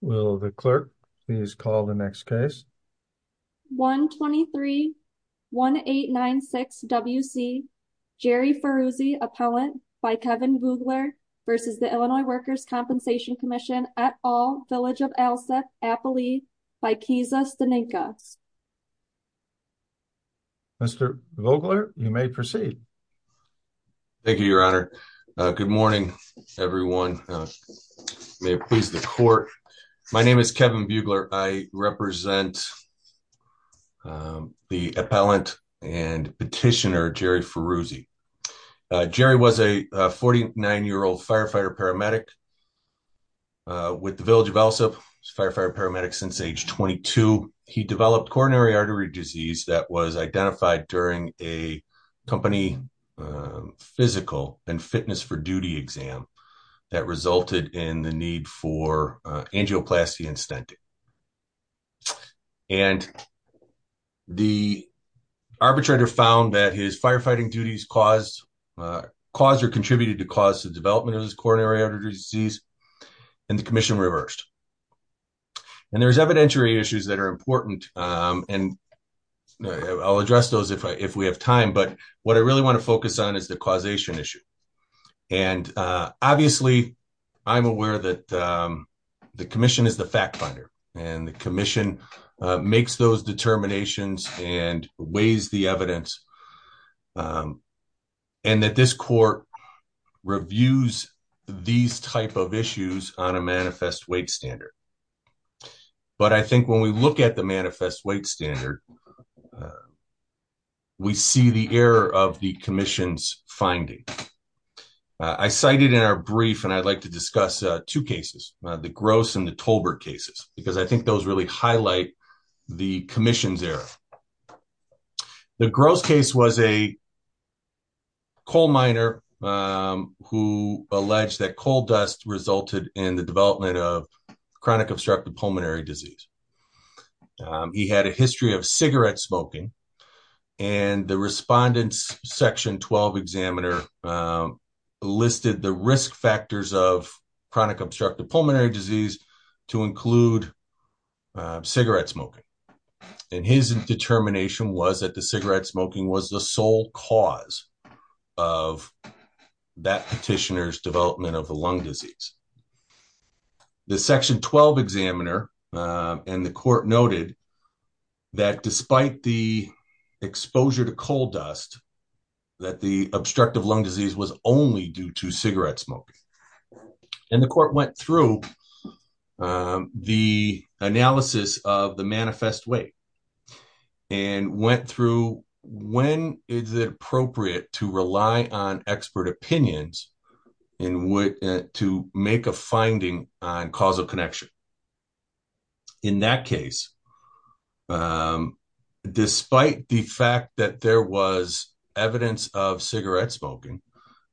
Will the clerk please call the next case? 1-23-1896-WC Jerry Faruzzi, Appellant, by Kevin Vogler, v. Illinois Workers' Compensation Comm'n, et al., Village of Alseth, Appalachia, by Keza Staninka. Mr. Vogler, you may proceed. Thank you, Your Honor. Good morning, everyone. May it please the court, my name is Kevin Vogler. I represent the appellant and petitioner, Jerry Faruzzi. Jerry was a 49-year-old firefighter paramedic with the Village of Alseth. He was a firefighter paramedic since age 22. He developed coronary artery disease that was identified during a company physical and fitness for duty exam that resulted in the need for angioplasty and stenting. The arbitrator found that his firefighting duties contributed to the cause of the development of coronary artery disease, and the commission reversed. There are evidentiary issues that are important, and I'll address those if we have time, but what I really want to focus on is the causation issue. Obviously, I'm aware that the commission is the fact finder, and the commission makes those determinations and weighs the evidence, and that this court reviews these type of issues on a manifest weight standard. But I think when we look at the finding, I cited in our brief, and I'd like to discuss two cases, the Gross and the Tolbert cases, because I think those really highlight the commission's error. The Gross case was a coal miner who alleged that coal dust resulted in the development of chronic obstructive pulmonary disease. He had a history of cigarette smoking, and the respondent's section 12 examiner listed the risk factors of chronic obstructive pulmonary disease to include cigarette smoking, and his determination was that the cigarette smoking was the sole cause of that petitioner's development of the lung disease. The section 12 examiner and the court noted that despite the exposure to coal dust, that the obstructive lung disease was only due to cigarette smoking. The court went through the analysis of the manifest weight and went through when is it appropriate to rely on expert opinions to make a finding on causal connection. In that case, despite the fact that there was evidence of cigarette smoking,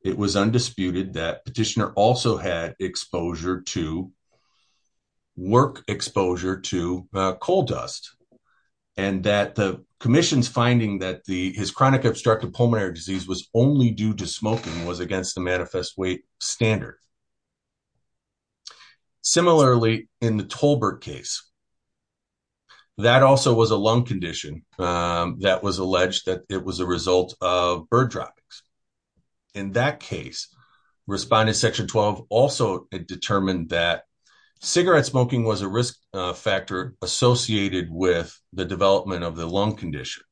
it was undisputed that petitioner also had exposure to, work exposure to coal dust, and that the commission's finding that his chronic obstructive pulmonary disease was only due to smoking was against the manifest weight standard. Similarly, in the Tolbert case, that also was a lung condition that was alleged that it was a result of bird droppings. In that case, respondent section 12 also determined that cigarette smoking was a risk factor associated with the development of the lung condition,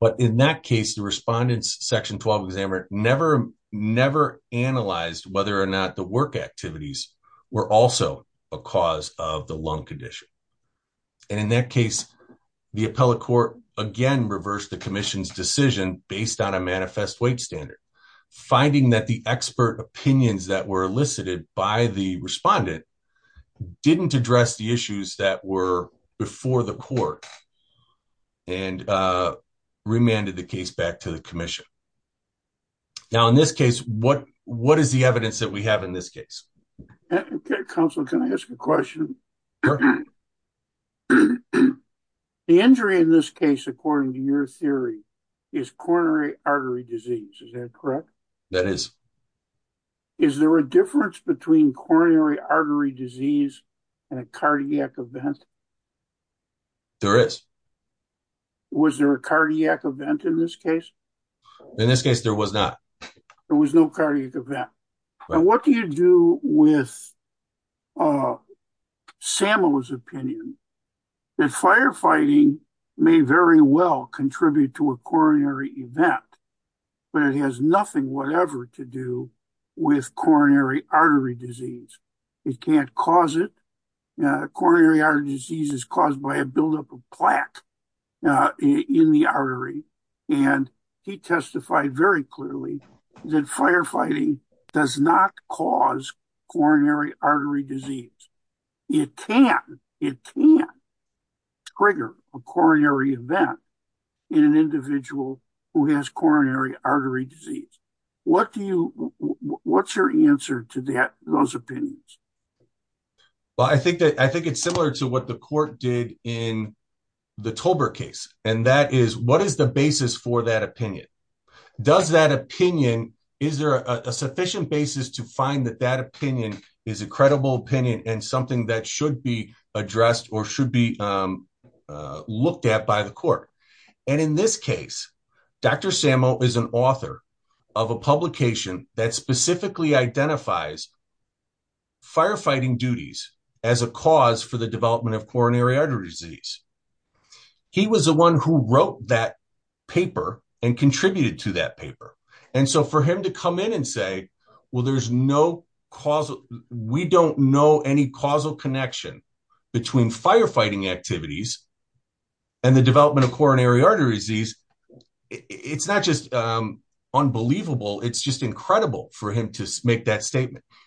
but in that case, the respondent's section 12 examiner never analyzed whether or not the work activities were also a cause of the lung condition. In that case, the appellate court again reversed the commission's decision based on a manifest weight standard, finding that the expert opinions that were elicited by the respondent didn't address the issues that were before the and remanded the case back to the commission. Now, in this case, what is the evidence that we have in this case? Okay, counsel, can I ask a question? The injury in this case, according to your theory, is coronary artery disease. Is that correct? That is. Is there a difference between coronary artery disease and a cardiac event? There is. Was there a cardiac event in this case? In this case, there was not. There was no cardiac event. And what do you do with Samuel's opinion that firefighting may very well contribute to a coronary event, but it has nothing whatever to do with coronary artery disease. It can't cause it. Coronary artery disease is caused by a buildup of plaque in the artery. And he testified very clearly that firefighting does not cause coronary artery disease. It can trigger a coronary event in an individual who has coronary artery disease. What's your answer to those opinions? Well, I think it's similar to what the court did in the Tolbert case. And that is, what is the basis for that opinion? Does that opinion, is there a sufficient basis to find that that opinion is a credible opinion and something that should be addressed or should be looked at by the court? And in this case, Dr. Samuel is an author of a publication that specifically identifies firefighting duties as a cause for the development of coronary artery disease. He was the one who wrote that paper and contributed to that paper. And so for him to come in and say, well, there's no causal, we don't know any causal connection between firefighting activities and the development of coronary artery disease. It's not just unbelievable. It's just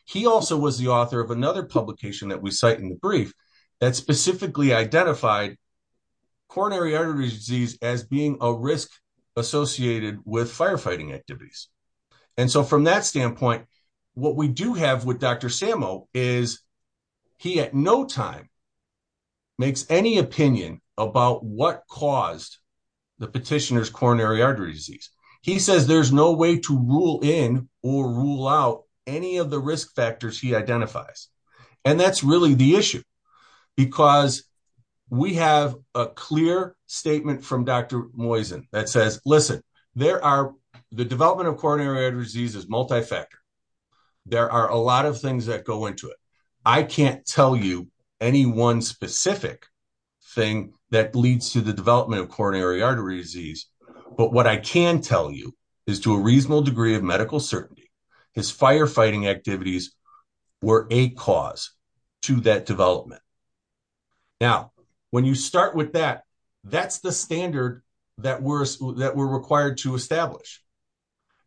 he also was the author of another publication that we cite in the brief that specifically identified coronary artery disease as being a risk associated with firefighting activities. And so from that standpoint, what we do have with Dr. Samuel is he at no time makes any opinion about what caused the petitioner's coronary artery disease. He says there's no way to rule in or rule out any of the risk factors he identifies. And that's really the issue because we have a clear statement from Dr. Moisen that says, listen, there are the development of coronary artery disease is multi-factor. There are a lot of things that go into it. I can't tell you any one specific thing that leads to the development of coronary artery disease. But what I can tell you is to a reasonable degree of medical certainty, his firefighting activities were a cause to that development. Now, when you start with that, that's the standard that we're required to establish.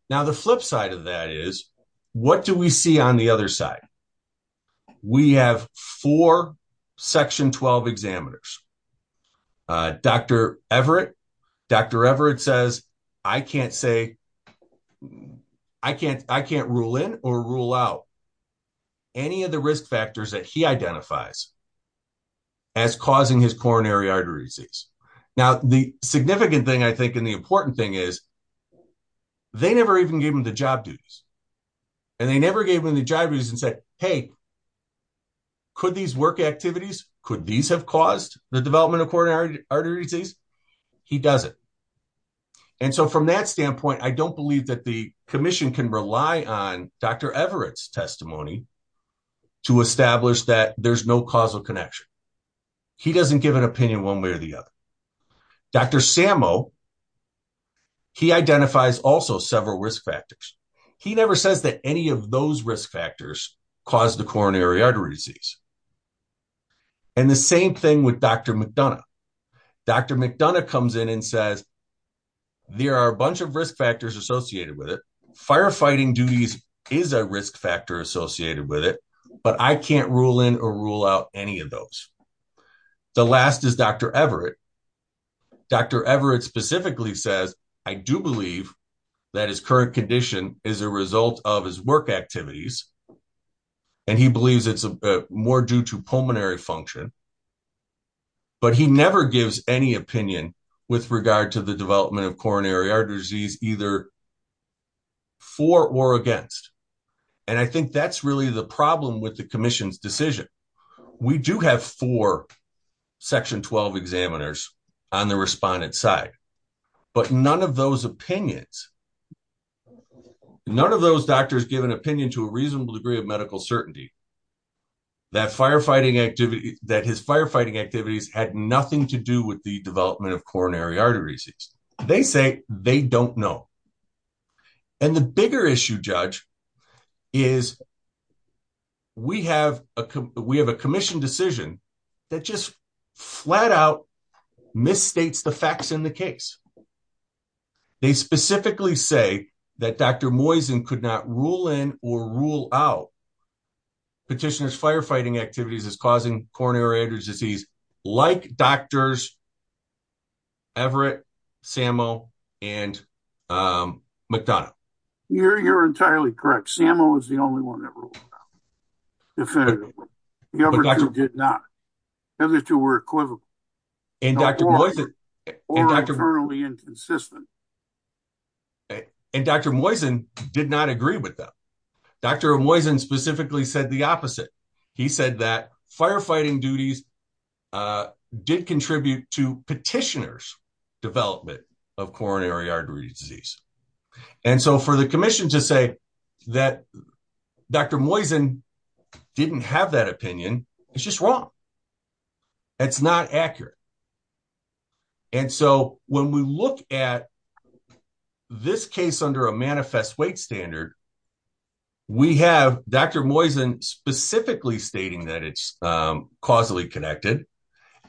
Now, the flip side of that is, what do we see on the other side? We have four section 12 examiners. Dr. Everett, Dr. Everett says, I can't say, I can't rule in or rule out any of the risk factors that he identifies as causing his coronary artery disease. Now, the significant thing, I think, the important thing is they never even gave him the job duties and they never gave him the job duties and said, hey, could these work activities, could these have caused the development of coronary artery disease? He doesn't. And so from that standpoint, I don't believe that the commission can rely on Dr. Everett's testimony to establish that there's no causal connection. He doesn't give an opinion one way or the other. Dr. Sammo, he identifies also several risk factors. He never says that any of those risk factors cause the coronary artery disease. And the same thing with Dr. McDonough. Dr. McDonough comes in and says, there are a bunch of risk factors associated with it. Firefighting duties is a risk factor associated with it, but I can't rule in or rule out any of those. The last is Dr. Everett. Dr. Everett specifically says, I do believe that his current condition is a result of his work activities. And he believes it's more due to pulmonary function, but he never gives any opinion with regard to the development of coronary artery disease either for or against. And I think that's really the problem with the commission's decision. We do have four section 12 examiners on the respondent side, but none of those opinions, none of those doctors give an opinion to a reasonable degree of medical certainty that firefighting activity, that his firefighting activities had nothing to do with the development of coronary artery disease. They say they don't know. And the bigger issue judge is we have a commission decision that just flat out misstates the facts in the case. They specifically say that Dr. Moisen could not rule in or rule out petitioners firefighting activities as causing coronary artery disease, like doctors Everett, Sammo, and McDonough. You're, you're entirely correct. Sammo is the only one that ruled definitively. The other two did not. The other two were equivocal or internally inconsistent. And Dr. Moisen did not agree with them. Dr. Moisen specifically said the opposite. He said that firefighting duties did contribute to petitioners development of coronary artery disease. And so for the commission to say that Dr. Moisen didn't have that opinion, it's just wrong. It's not accurate. And so when we look at this case under a manifest weight standard, we have Dr. Moisen specifically stating that it's causally connected.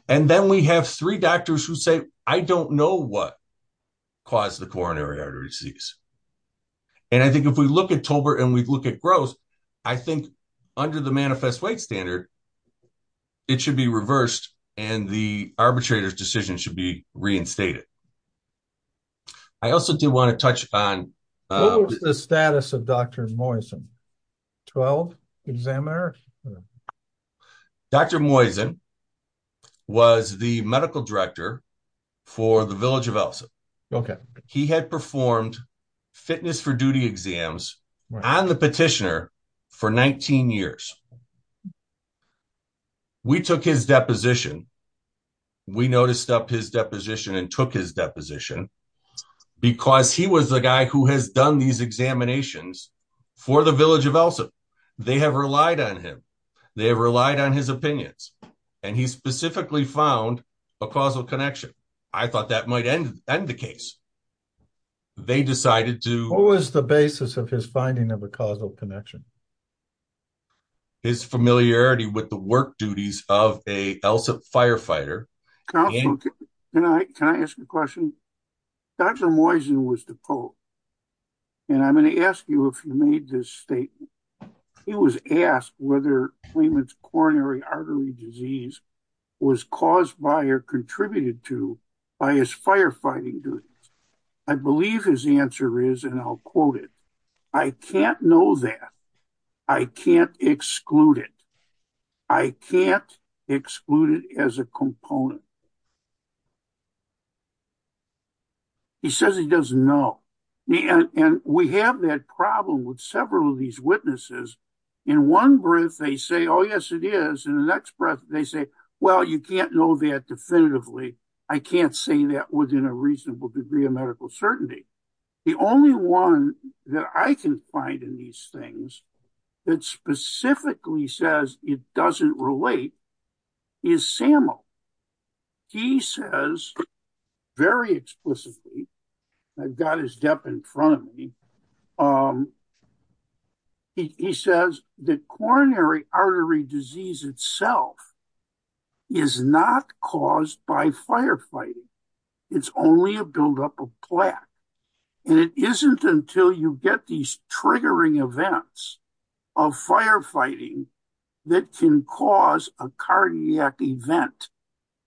And then we have three doctors who say, I don't know what caused the coronary artery disease. And I think if we look at Tolbert and we look at growth, I think under the manifest weight standard, it should be reversed. And the arbitrator's decision should be reinstated. I also do want to touch on the status of Dr. Moisen, 12 examiner. Dr. Moisen was the medical director for the village of Ellison. Okay. He had performed fitness for duty exams on the petitioner for 19 years. We took his deposition. We noticed up his deposition and took his deposition because he was the guy who has done these examinations for the village of Ellison. They have relied on him. They have relied on his opinions and he specifically found a causal connection. I thought that might end the case. They decided to- What was the basis of his finding of a causal connection? His familiarity with the work duties of a Ellison firefighter. Can I ask you a question? Dr. Moisen was the pope. And I'm going to ask you if you made this statement. He was asked whether claimant's coronary artery disease was caused by or contributed to by his firefighting duties. I believe his answer is, and I'll quote it. I can't know that. I can't exclude it. I can't exclude it as a component. He says he doesn't know. And we have that problem with several of these witnesses. In one breath, they say, oh, yes, it is. In the next breath, they say, well, you can't know that definitively. I can't say that within a reasonable degree of medical certainty. The only one that I can find in these things that specifically says it doesn't relate is Samuel. He says very explicitly, I've got his depth in front of me. He says the coronary artery disease itself is not caused by firefighting. It's only a buildup of plaque. And it isn't until you get these triggering events of firefighting that can cause a cardiac event,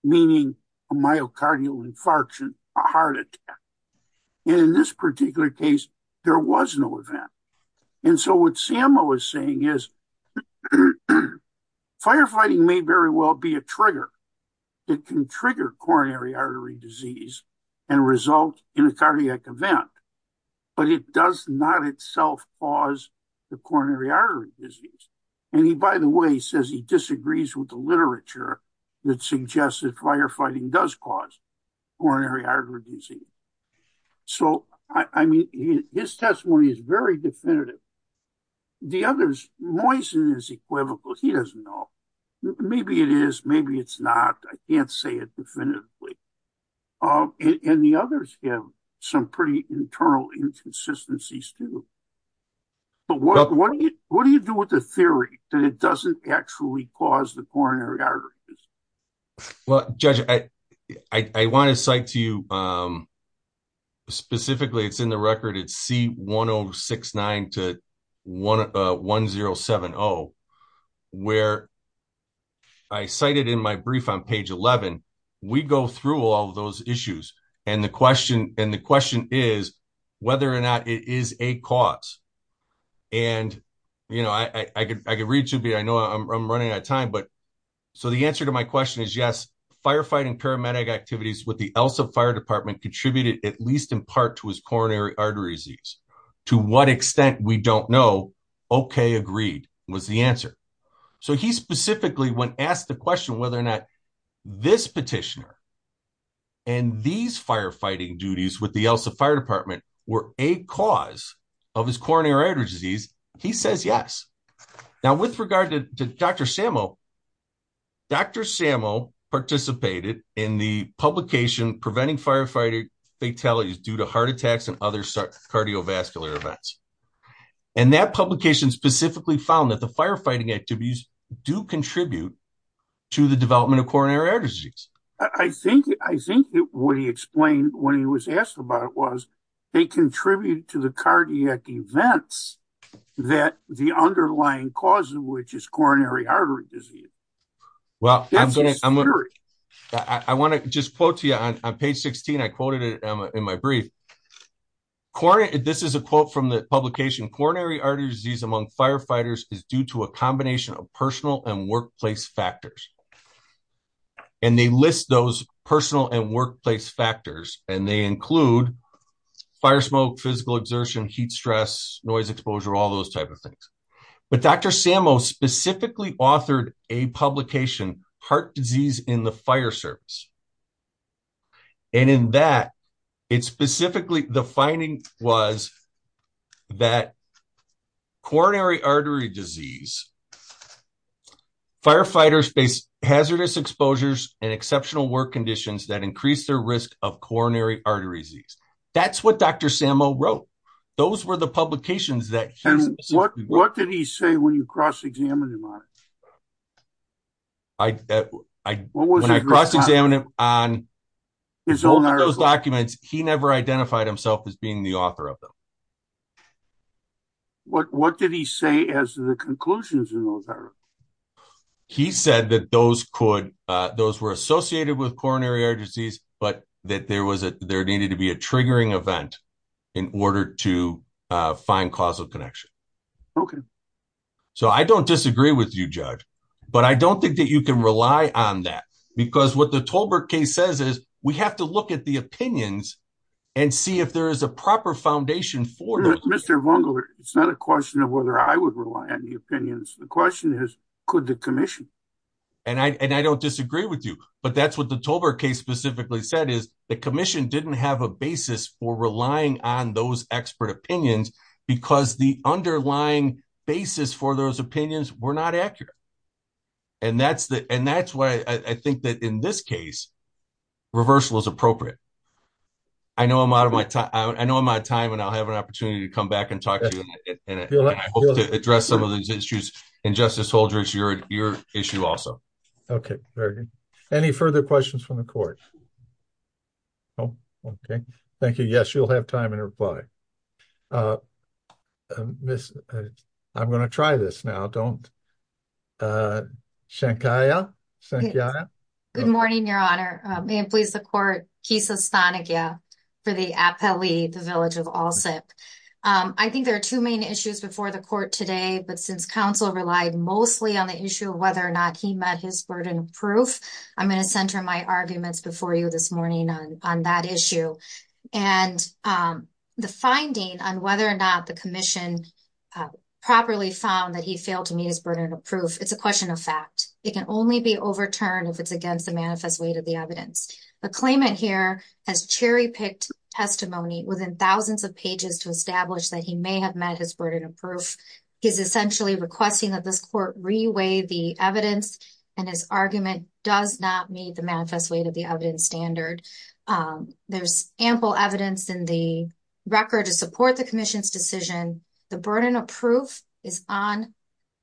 meaning a myocardial infarction, a heart attack. And in this particular case, there was no event. And so what Samuel was saying is firefighting may very well be a trigger that can trigger coronary artery disease and result in a cardiac event. But it does not itself cause the coronary artery disease. And he, by the way, says he disagrees with the literature that suggests that firefighting does cause coronary disease. So, I mean, his testimony is very definitive. The others, Moyse is equivocal. He doesn't know. Maybe it is, maybe it's not. I can't say it definitively. And the others have some pretty internal inconsistencies too. But what do you do with the theory that it doesn't actually cause the coronary artery disease? Well, Judge, I want to cite to you, specifically, it's in the record, it's C1069 to 1070, where I cited in my brief on page 11, we go through all of those issues. And the question is whether or not it is a cause. And, you know, I could read you, but I know I'm running out of time. But so the answer to my question is yes, firefighting paramedic activities with the ELSA Fire Department contributed at least in part to his coronary artery disease. To what extent, we don't know. Okay, agreed, was the answer. So he specifically, when asked the question whether or not this petitioner and these firefighting with the ELSA Fire Department were a cause of his coronary artery disease, he says yes. Now, with regard to Dr. Samo, Dr. Samo participated in the publication, Preventing Firefighter Fatalities Due to Heart Attacks and Other Cardiovascular Events. And that publication specifically found that the firefighting activities do contribute to the cardiac events that the underlying cause of which is coronary artery disease. Well, I want to just quote to you on page 16, I quoted it in my brief. This is a quote from the publication, coronary artery disease among firefighters is due to a combination of personal and workplace factors. And they list those personal and workplace factors, and they include fire smoke, physical exertion, heat stress, noise exposure, all those types of things. But Dr. Samo specifically authored a publication, Heart Disease in the Fire Service. And in that, it specifically, the finding was that coronary artery disease, firefighters face hazardous exposures and exceptional work conditions that increase their risk of coronary artery disease. That's what Dr. Samo wrote. Those were the publications that he wrote. And what did he say when you cross-examined him on it? When I cross-examined him on those documents, he never identified himself as being the author of them. What did he say as the conclusions in those articles? He said that those could, those were associated with coronary artery disease, but that there was a, there needed to be a triggering event in order to find causal connection. Okay. So I don't disagree with you, Judge, but I don't think that you can rely on that because what the Tolbert case says is, we have to look at the opinions and see if there is a proper foundation for them. Mr. Vongeler, it's not a question of whether I would rely on the opinions. The question is, could the commission? And I don't disagree with you, but that's what the Tolbert case specifically said is the commission didn't have a basis for relying on those expert opinions because the underlying basis for those opinions were not accurate. And that's why I think that in this case, reversal is appropriate. I know I'm out of my time and I'll have an opportunity to back and talk to you and I hope to address some of these issues and Justice Holdridge, your issue also. Okay. Very good. Any further questions from the court? Nope. Okay. Thank you. Yes, you'll have time and reply. Uh, uh, I'm going to try this now. Don't, uh, Shankaya. Good morning, your honor. May it please the court. Kisa Stanagia for the appellee, the village of all sip. Um, I think there are two main issues before the court today, but since council relied mostly on the issue of whether or not he met his burden of proof, I'm going to center my arguments before you this morning on that issue and, um, the finding on whether or not the commission, uh, properly found that he failed to meet his burden of proof. It's a question of fact. It can only be overturned if it's against the manifest way to the evidence, the claimant here has cherry picked testimony within thousands of pages to establish that he may have met his burden of proof. He's essentially requesting that this court reweigh the evidence and his argument does not meet the manifest way to the evidence standard. Um, there's ample evidence in the record to support the commission's decision. The burden of proof is on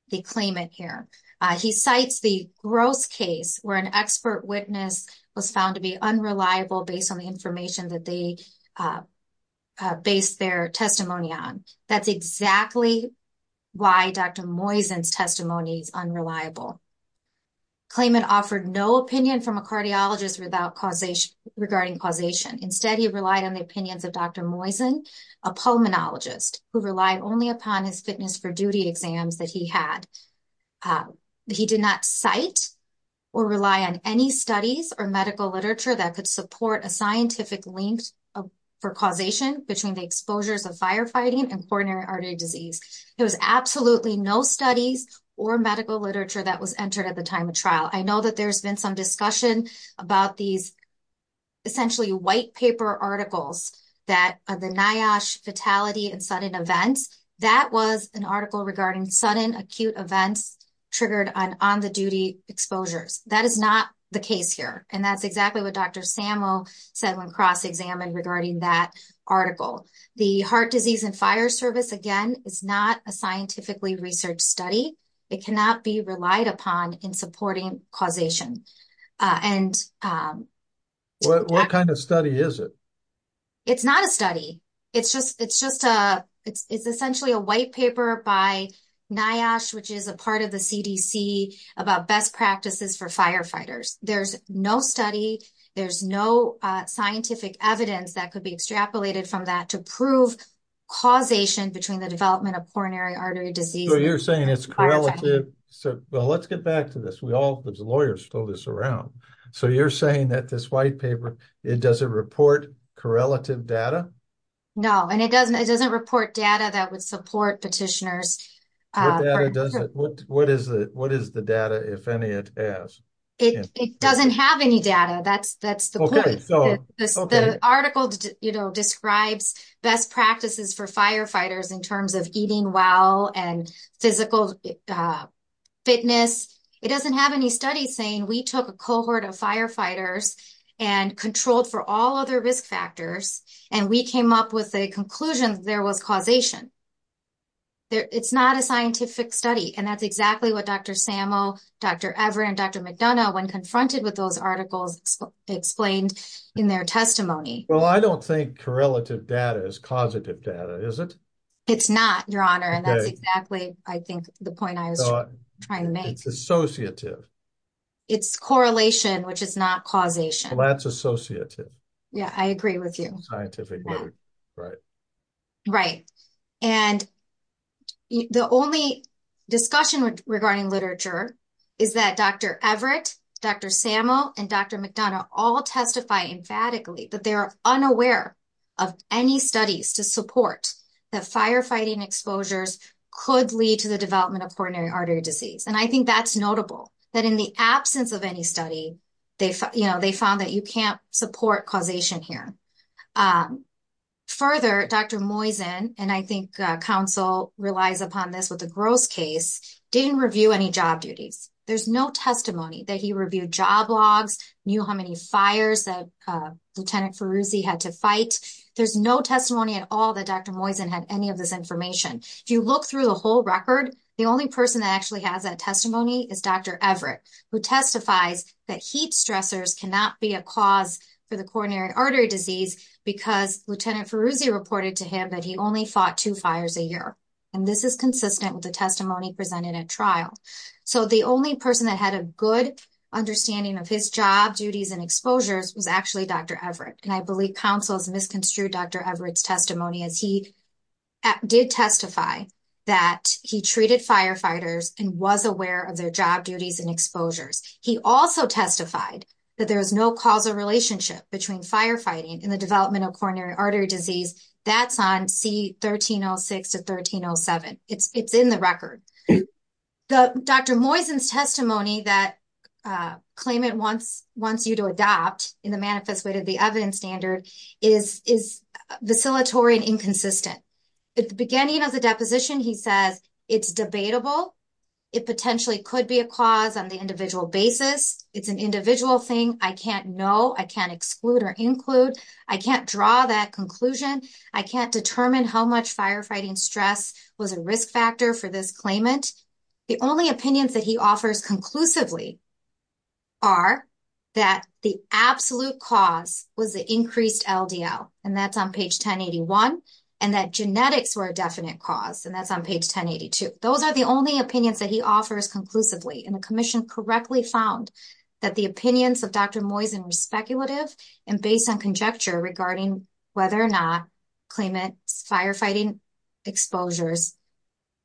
the claimant here. Uh, he cites the gross case where an expert witness was found to be unreliable based on the information that they, uh, uh, based their testimony on. That's exactly why dr Moysen's testimony is unreliable. Claimant offered no opinion from a cardiologist without causation regarding causation. Instead, he relied on the opinions of dr Moysen, a pulmonologist who relied only upon his fitness for duty exams that he had. He did not cite or rely on any studies or medical literature that could support a scientific link for causation between the exposures of firefighting and coronary artery disease. There was absolutely no studies or medical literature that was entered at the time of trial. I know that there's been some discussion about these essentially white events. That was an article regarding sudden acute events triggered on on the duty exposures. That is not the case here. And that's exactly what dr Sammo said when cross examined regarding that article. The heart disease and fire service again is not a scientifically researched study. It cannot be relied upon in supporting causation. Uh, and um, what kind of study is it? It's not a study. It's just, it's just a, it's essentially a white paper by NIOSH, which is a part of the CDC about best practices for firefighters. There's no study. There's no scientific evidence that could be extrapolated from that to prove causation between the development of coronary artery disease. So you're saying it's correlative. So well, let's get back to this. We all, there's lawyers throw this around. So you're saying that this data, no, and it doesn't, it doesn't report data that would support petitioners. What is it? What is the data? If any, it, it doesn't have any data. That's, that's the point. The article describes best practices for firefighters in terms of eating well and physical fitness. It doesn't have any studies saying we took a cohort of firefighters and controlled for all other risk factors. And we came up with a conclusion. There was causation there. It's not a scientific study. And that's exactly what Dr. Sammo, Dr. Everett, and Dr. McDonough when confronted with those articles explained in their testimony. Well, I don't think correlative data is causative data. Is it? It's not your honor. And that's exactly, I think the point I was trying to make associative it's correlation, which is not causation. That's associative. Yeah, I agree with you. Scientific way. Right. Right. And the only discussion regarding literature is that Dr. Everett, Dr. Sammo, and Dr. McDonough all testify emphatically, but they're unaware of any studies to support that firefighting exposures could lead to the development of coronary artery disease. And I study, they, you know, they found that you can't support causation here. Further, Dr. Moisen, and I think council relies upon this with the gross case, didn't review any job duties. There's no testimony that he reviewed job logs, knew how many fires that Lieutenant Feruzzi had to fight. There's no testimony at all that Dr. Moisen had any of this information. If you look through the whole record, the only person that actually has that testifies that heat stressors cannot be a cause for the coronary artery disease because Lieutenant Feruzzi reported to him that he only fought two fires a year. And this is consistent with the testimony presented at trial. So the only person that had a good understanding of his job duties and exposures was actually Dr. Everett. And I believe councils misconstrued Dr. Everett's testimony as he did testify that he treated firefighters and was aware of their job duties and exposures. He also testified that there was no causal relationship between firefighting and the development of coronary artery disease. That's on C-1306 to 1307. It's in the record. The Dr. Moisen's testimony that claimant wants you to adopt in the manifest way to the evidence standard is vacillatory and inconsistent. At the beginning of the deposition, he says it's debatable. It potentially could be a cause on the individual basis. It's an individual thing. I can't know. I can't exclude or include. I can't draw that conclusion. I can't determine how much firefighting stress was a risk factor for this claimant. The only opinions that he offers conclusively are that the absolute cause was the increased LDL. And that's on page 1081. And that genetics were a definite cause. And that's on page 1082. Those are the only opinions that he offers conclusively. And the commission correctly found that the opinions of Dr. Moisen were speculative and based on conjecture regarding whether or not claimant's firefighting exposures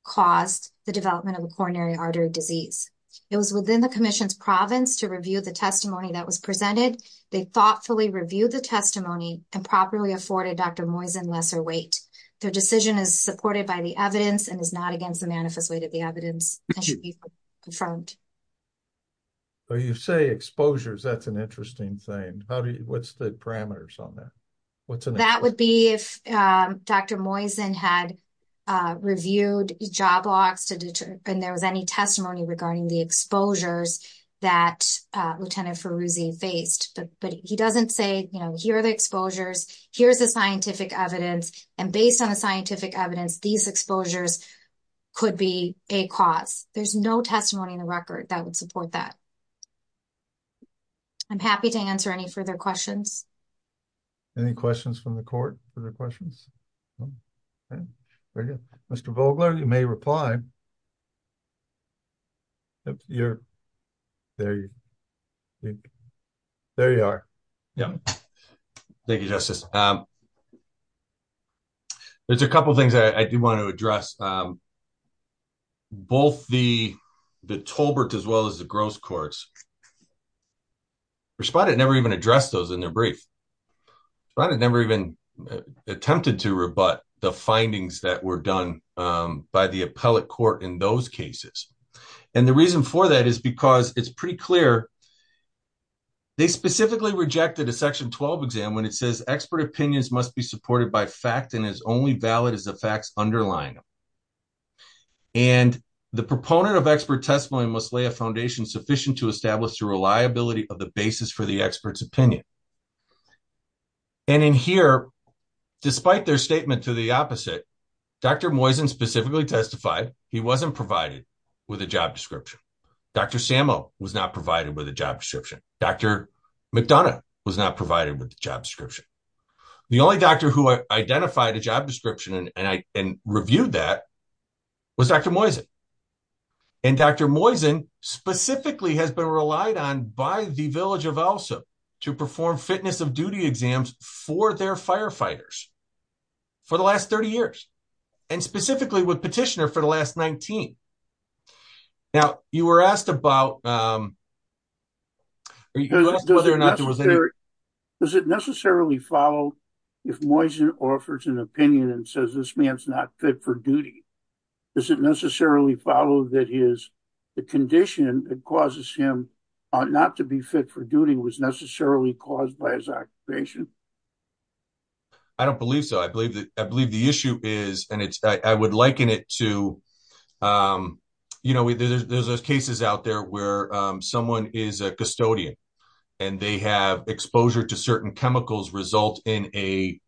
caused the development of a coronary artery disease. It was within the commission's province to review the testimony that was presented. They thoughtfully reviewed the testimony and properly afforded Dr. Moisen lesser weight. Their decision is supported by the evidence and is not against the manifest way to the evidence that should be confirmed. So you say exposures, that's an interesting thing. What's the parameters on that? That would be if Dr. Moisen had reviewed job logs and there was any testimony regarding the exposures that Lieutenant Ferruzzi faced. But he doesn't say, here are the exposures, here's the scientific evidence. And based on the scientific evidence, these exposures could be a cause. There's no testimony in the record that would support that. I'm happy to answer any further questions. Any questions from the court? Mr. Vogler, you may reply. There you are. Thank you, Justice. There's a couple of things I do want to address. Both the Tolbert as well as the Gross courts responded never even addressed those in their brief. I never even attempted to rebut the findings that were done by the appellate court in those cases. And the reason for that is because it's pretty clear they specifically rejected a section 12 exam when it says expert opinions must be supported by fact and is only valid as the facts underlying them. And the proponent of expert testimony must lay a foundation sufficient to establish the reliability of the basis for the expert's opinion. And in here, despite their statement to the opposite, Dr. Moisen specifically testified he wasn't provided with a job description. Dr. Sammo was not provided with a job description. Dr. McDonough was not provided with a job description. The only doctor who identified a job description and reviewed that was Dr. Moisen. And Dr. Moisen specifically has been relied on by the Village of Elsa to perform fitness of duty exams for their firefighters for the last 30 years, and specifically with petitioner for the last 19. Now, you were asked about whether or not there was any... Does it necessarily follow if Moisen offers an opinion and says this man's not fit for duty? Does it necessarily follow that the condition that causes him not to be fit for duty was necessarily caused by his occupation? I don't believe so. I believe the issue is, and I would liken it to, there's those cases out there where someone is a custodian and they have exposure to certain chemicals result in a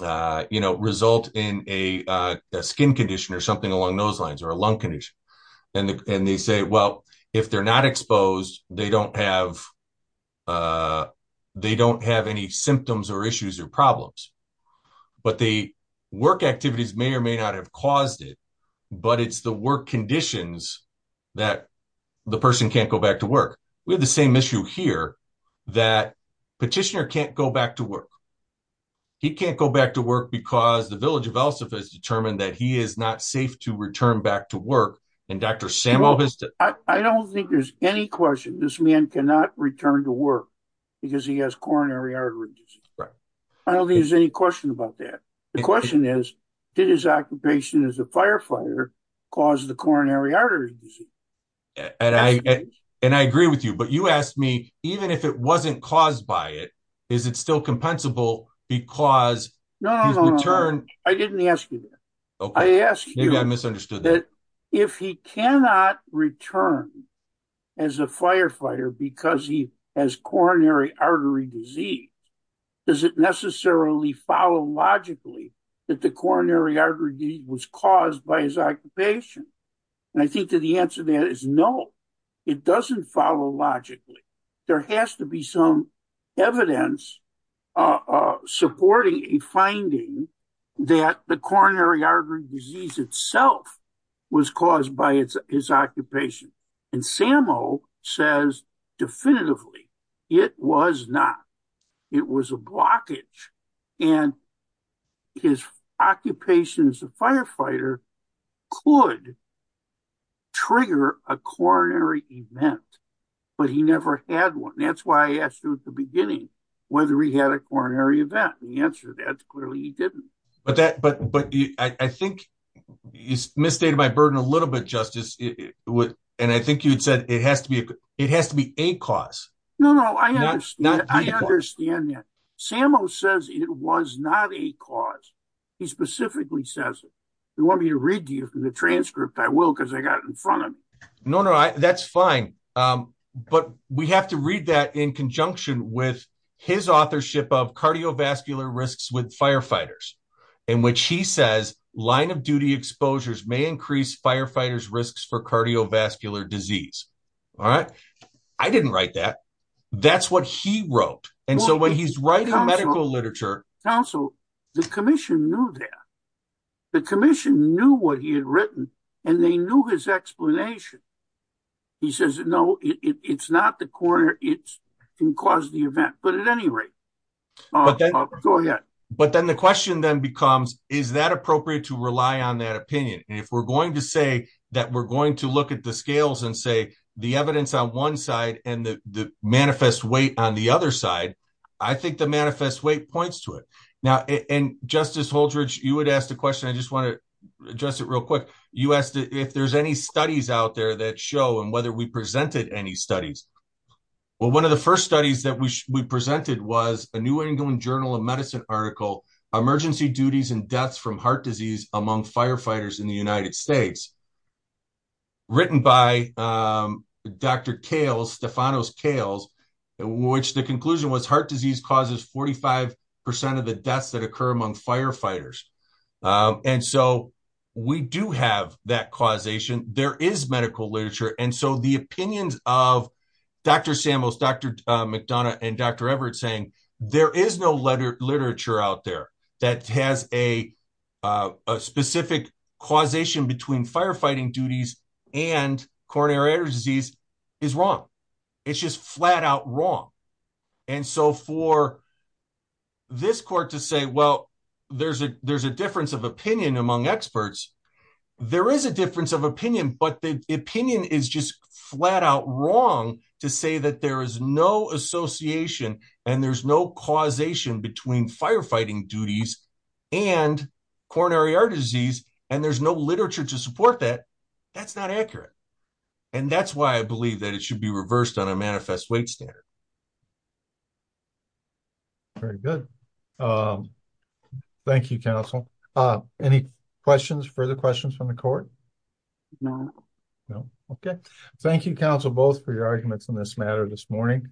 skin condition or something along those lines or a lung condition. And they say, well, if they're not exposed, they don't have any symptoms or issues or problems. But the work activities may or may not have caused it, but it's the work conditions that the person can't go back to work. We have the same issue here that petitioner can't go back to work. He can't go back to work because the Village of Elsa has determined that he is not safe to return back to work. And Dr. Samuel has... I don't think there's any question this man cannot return to work because he has coronary artery disease. I don't think there's any question about that. The question is, did his occupation as a firefighter cause the coronary artery disease? And I agree with you, but you asked me, even if it wasn't caused by it, is it still compensable because he's returned? I didn't ask you that. If he cannot return as a firefighter because he has coronary artery disease, does it necessarily follow logically that the coronary artery disease was caused by his occupation? And I think that the answer to that is no, it doesn't follow logically. There has to be some evidence supporting a finding that the coronary artery disease itself was caused by his occupation. And Samuel says definitively, it was not. It was a blockage. And his occupation as a firefighter could trigger a coronary event, but he never had one. That's why I asked you at the beginning whether he had a coronary event. The answer to that is clearly he didn't. But I think you misstated my burden a little bit, Justice. And I think you'd said it has to be a cause. No, no, I understand that. Samuel says it was not a cause. He specifically says it. You want me to read to you the transcript? I will, because I got it in front of me. No, no, that's fine. But we have to read that in conjunction with his authorship of cardiovascular risks with firefighters, in which he says line of duty exposures may increase firefighters' risks for cardiovascular disease. All right. I didn't write that. That's what he wrote. And so when he's writing medical literature. Counsel, the commission knew that. The commission knew what he had written and they knew his explanation. He says, no, it's not the coronary. It can cause the event. But at any rate, go ahead. But then the question then becomes, is that appropriate to rely on that to look at the scales and say the evidence on one side and the manifest weight on the other side? I think the manifest weight points to it now. And Justice Holdridge, you had asked a question. I just want to address it real quick. You asked if there's any studies out there that show and whether we presented any studies. Well, one of the first studies that we presented was a New England Journal of Medicine article, Emergency Duties and Deaths from Heart Disease Among Firefighters in the United States. Written by Dr. Cales, Stephanos Cales, which the conclusion was heart disease causes 45% of the deaths that occur among firefighters. And so we do have that causation. There is medical literature. And so the opinions of Dr. Samuels, Dr. McDonough and Dr. Cales, that has a specific causation between firefighting duties and coronary artery disease is wrong. It's just flat out wrong. And so for this court to say, well, there's a difference of opinion among experts. There is a difference of opinion, but the opinion is just flat out wrong to say that there is no association and there's no causation between firefighting duties and coronary artery disease, and there's no literature to support that, that's not accurate. And that's why I believe that it should be reversed on a manifest weight standard. Very good. Thank you, counsel. Any questions, further questions from the court? No. No. Okay. Thank you, counsel, both for your arguments on this matter this morning.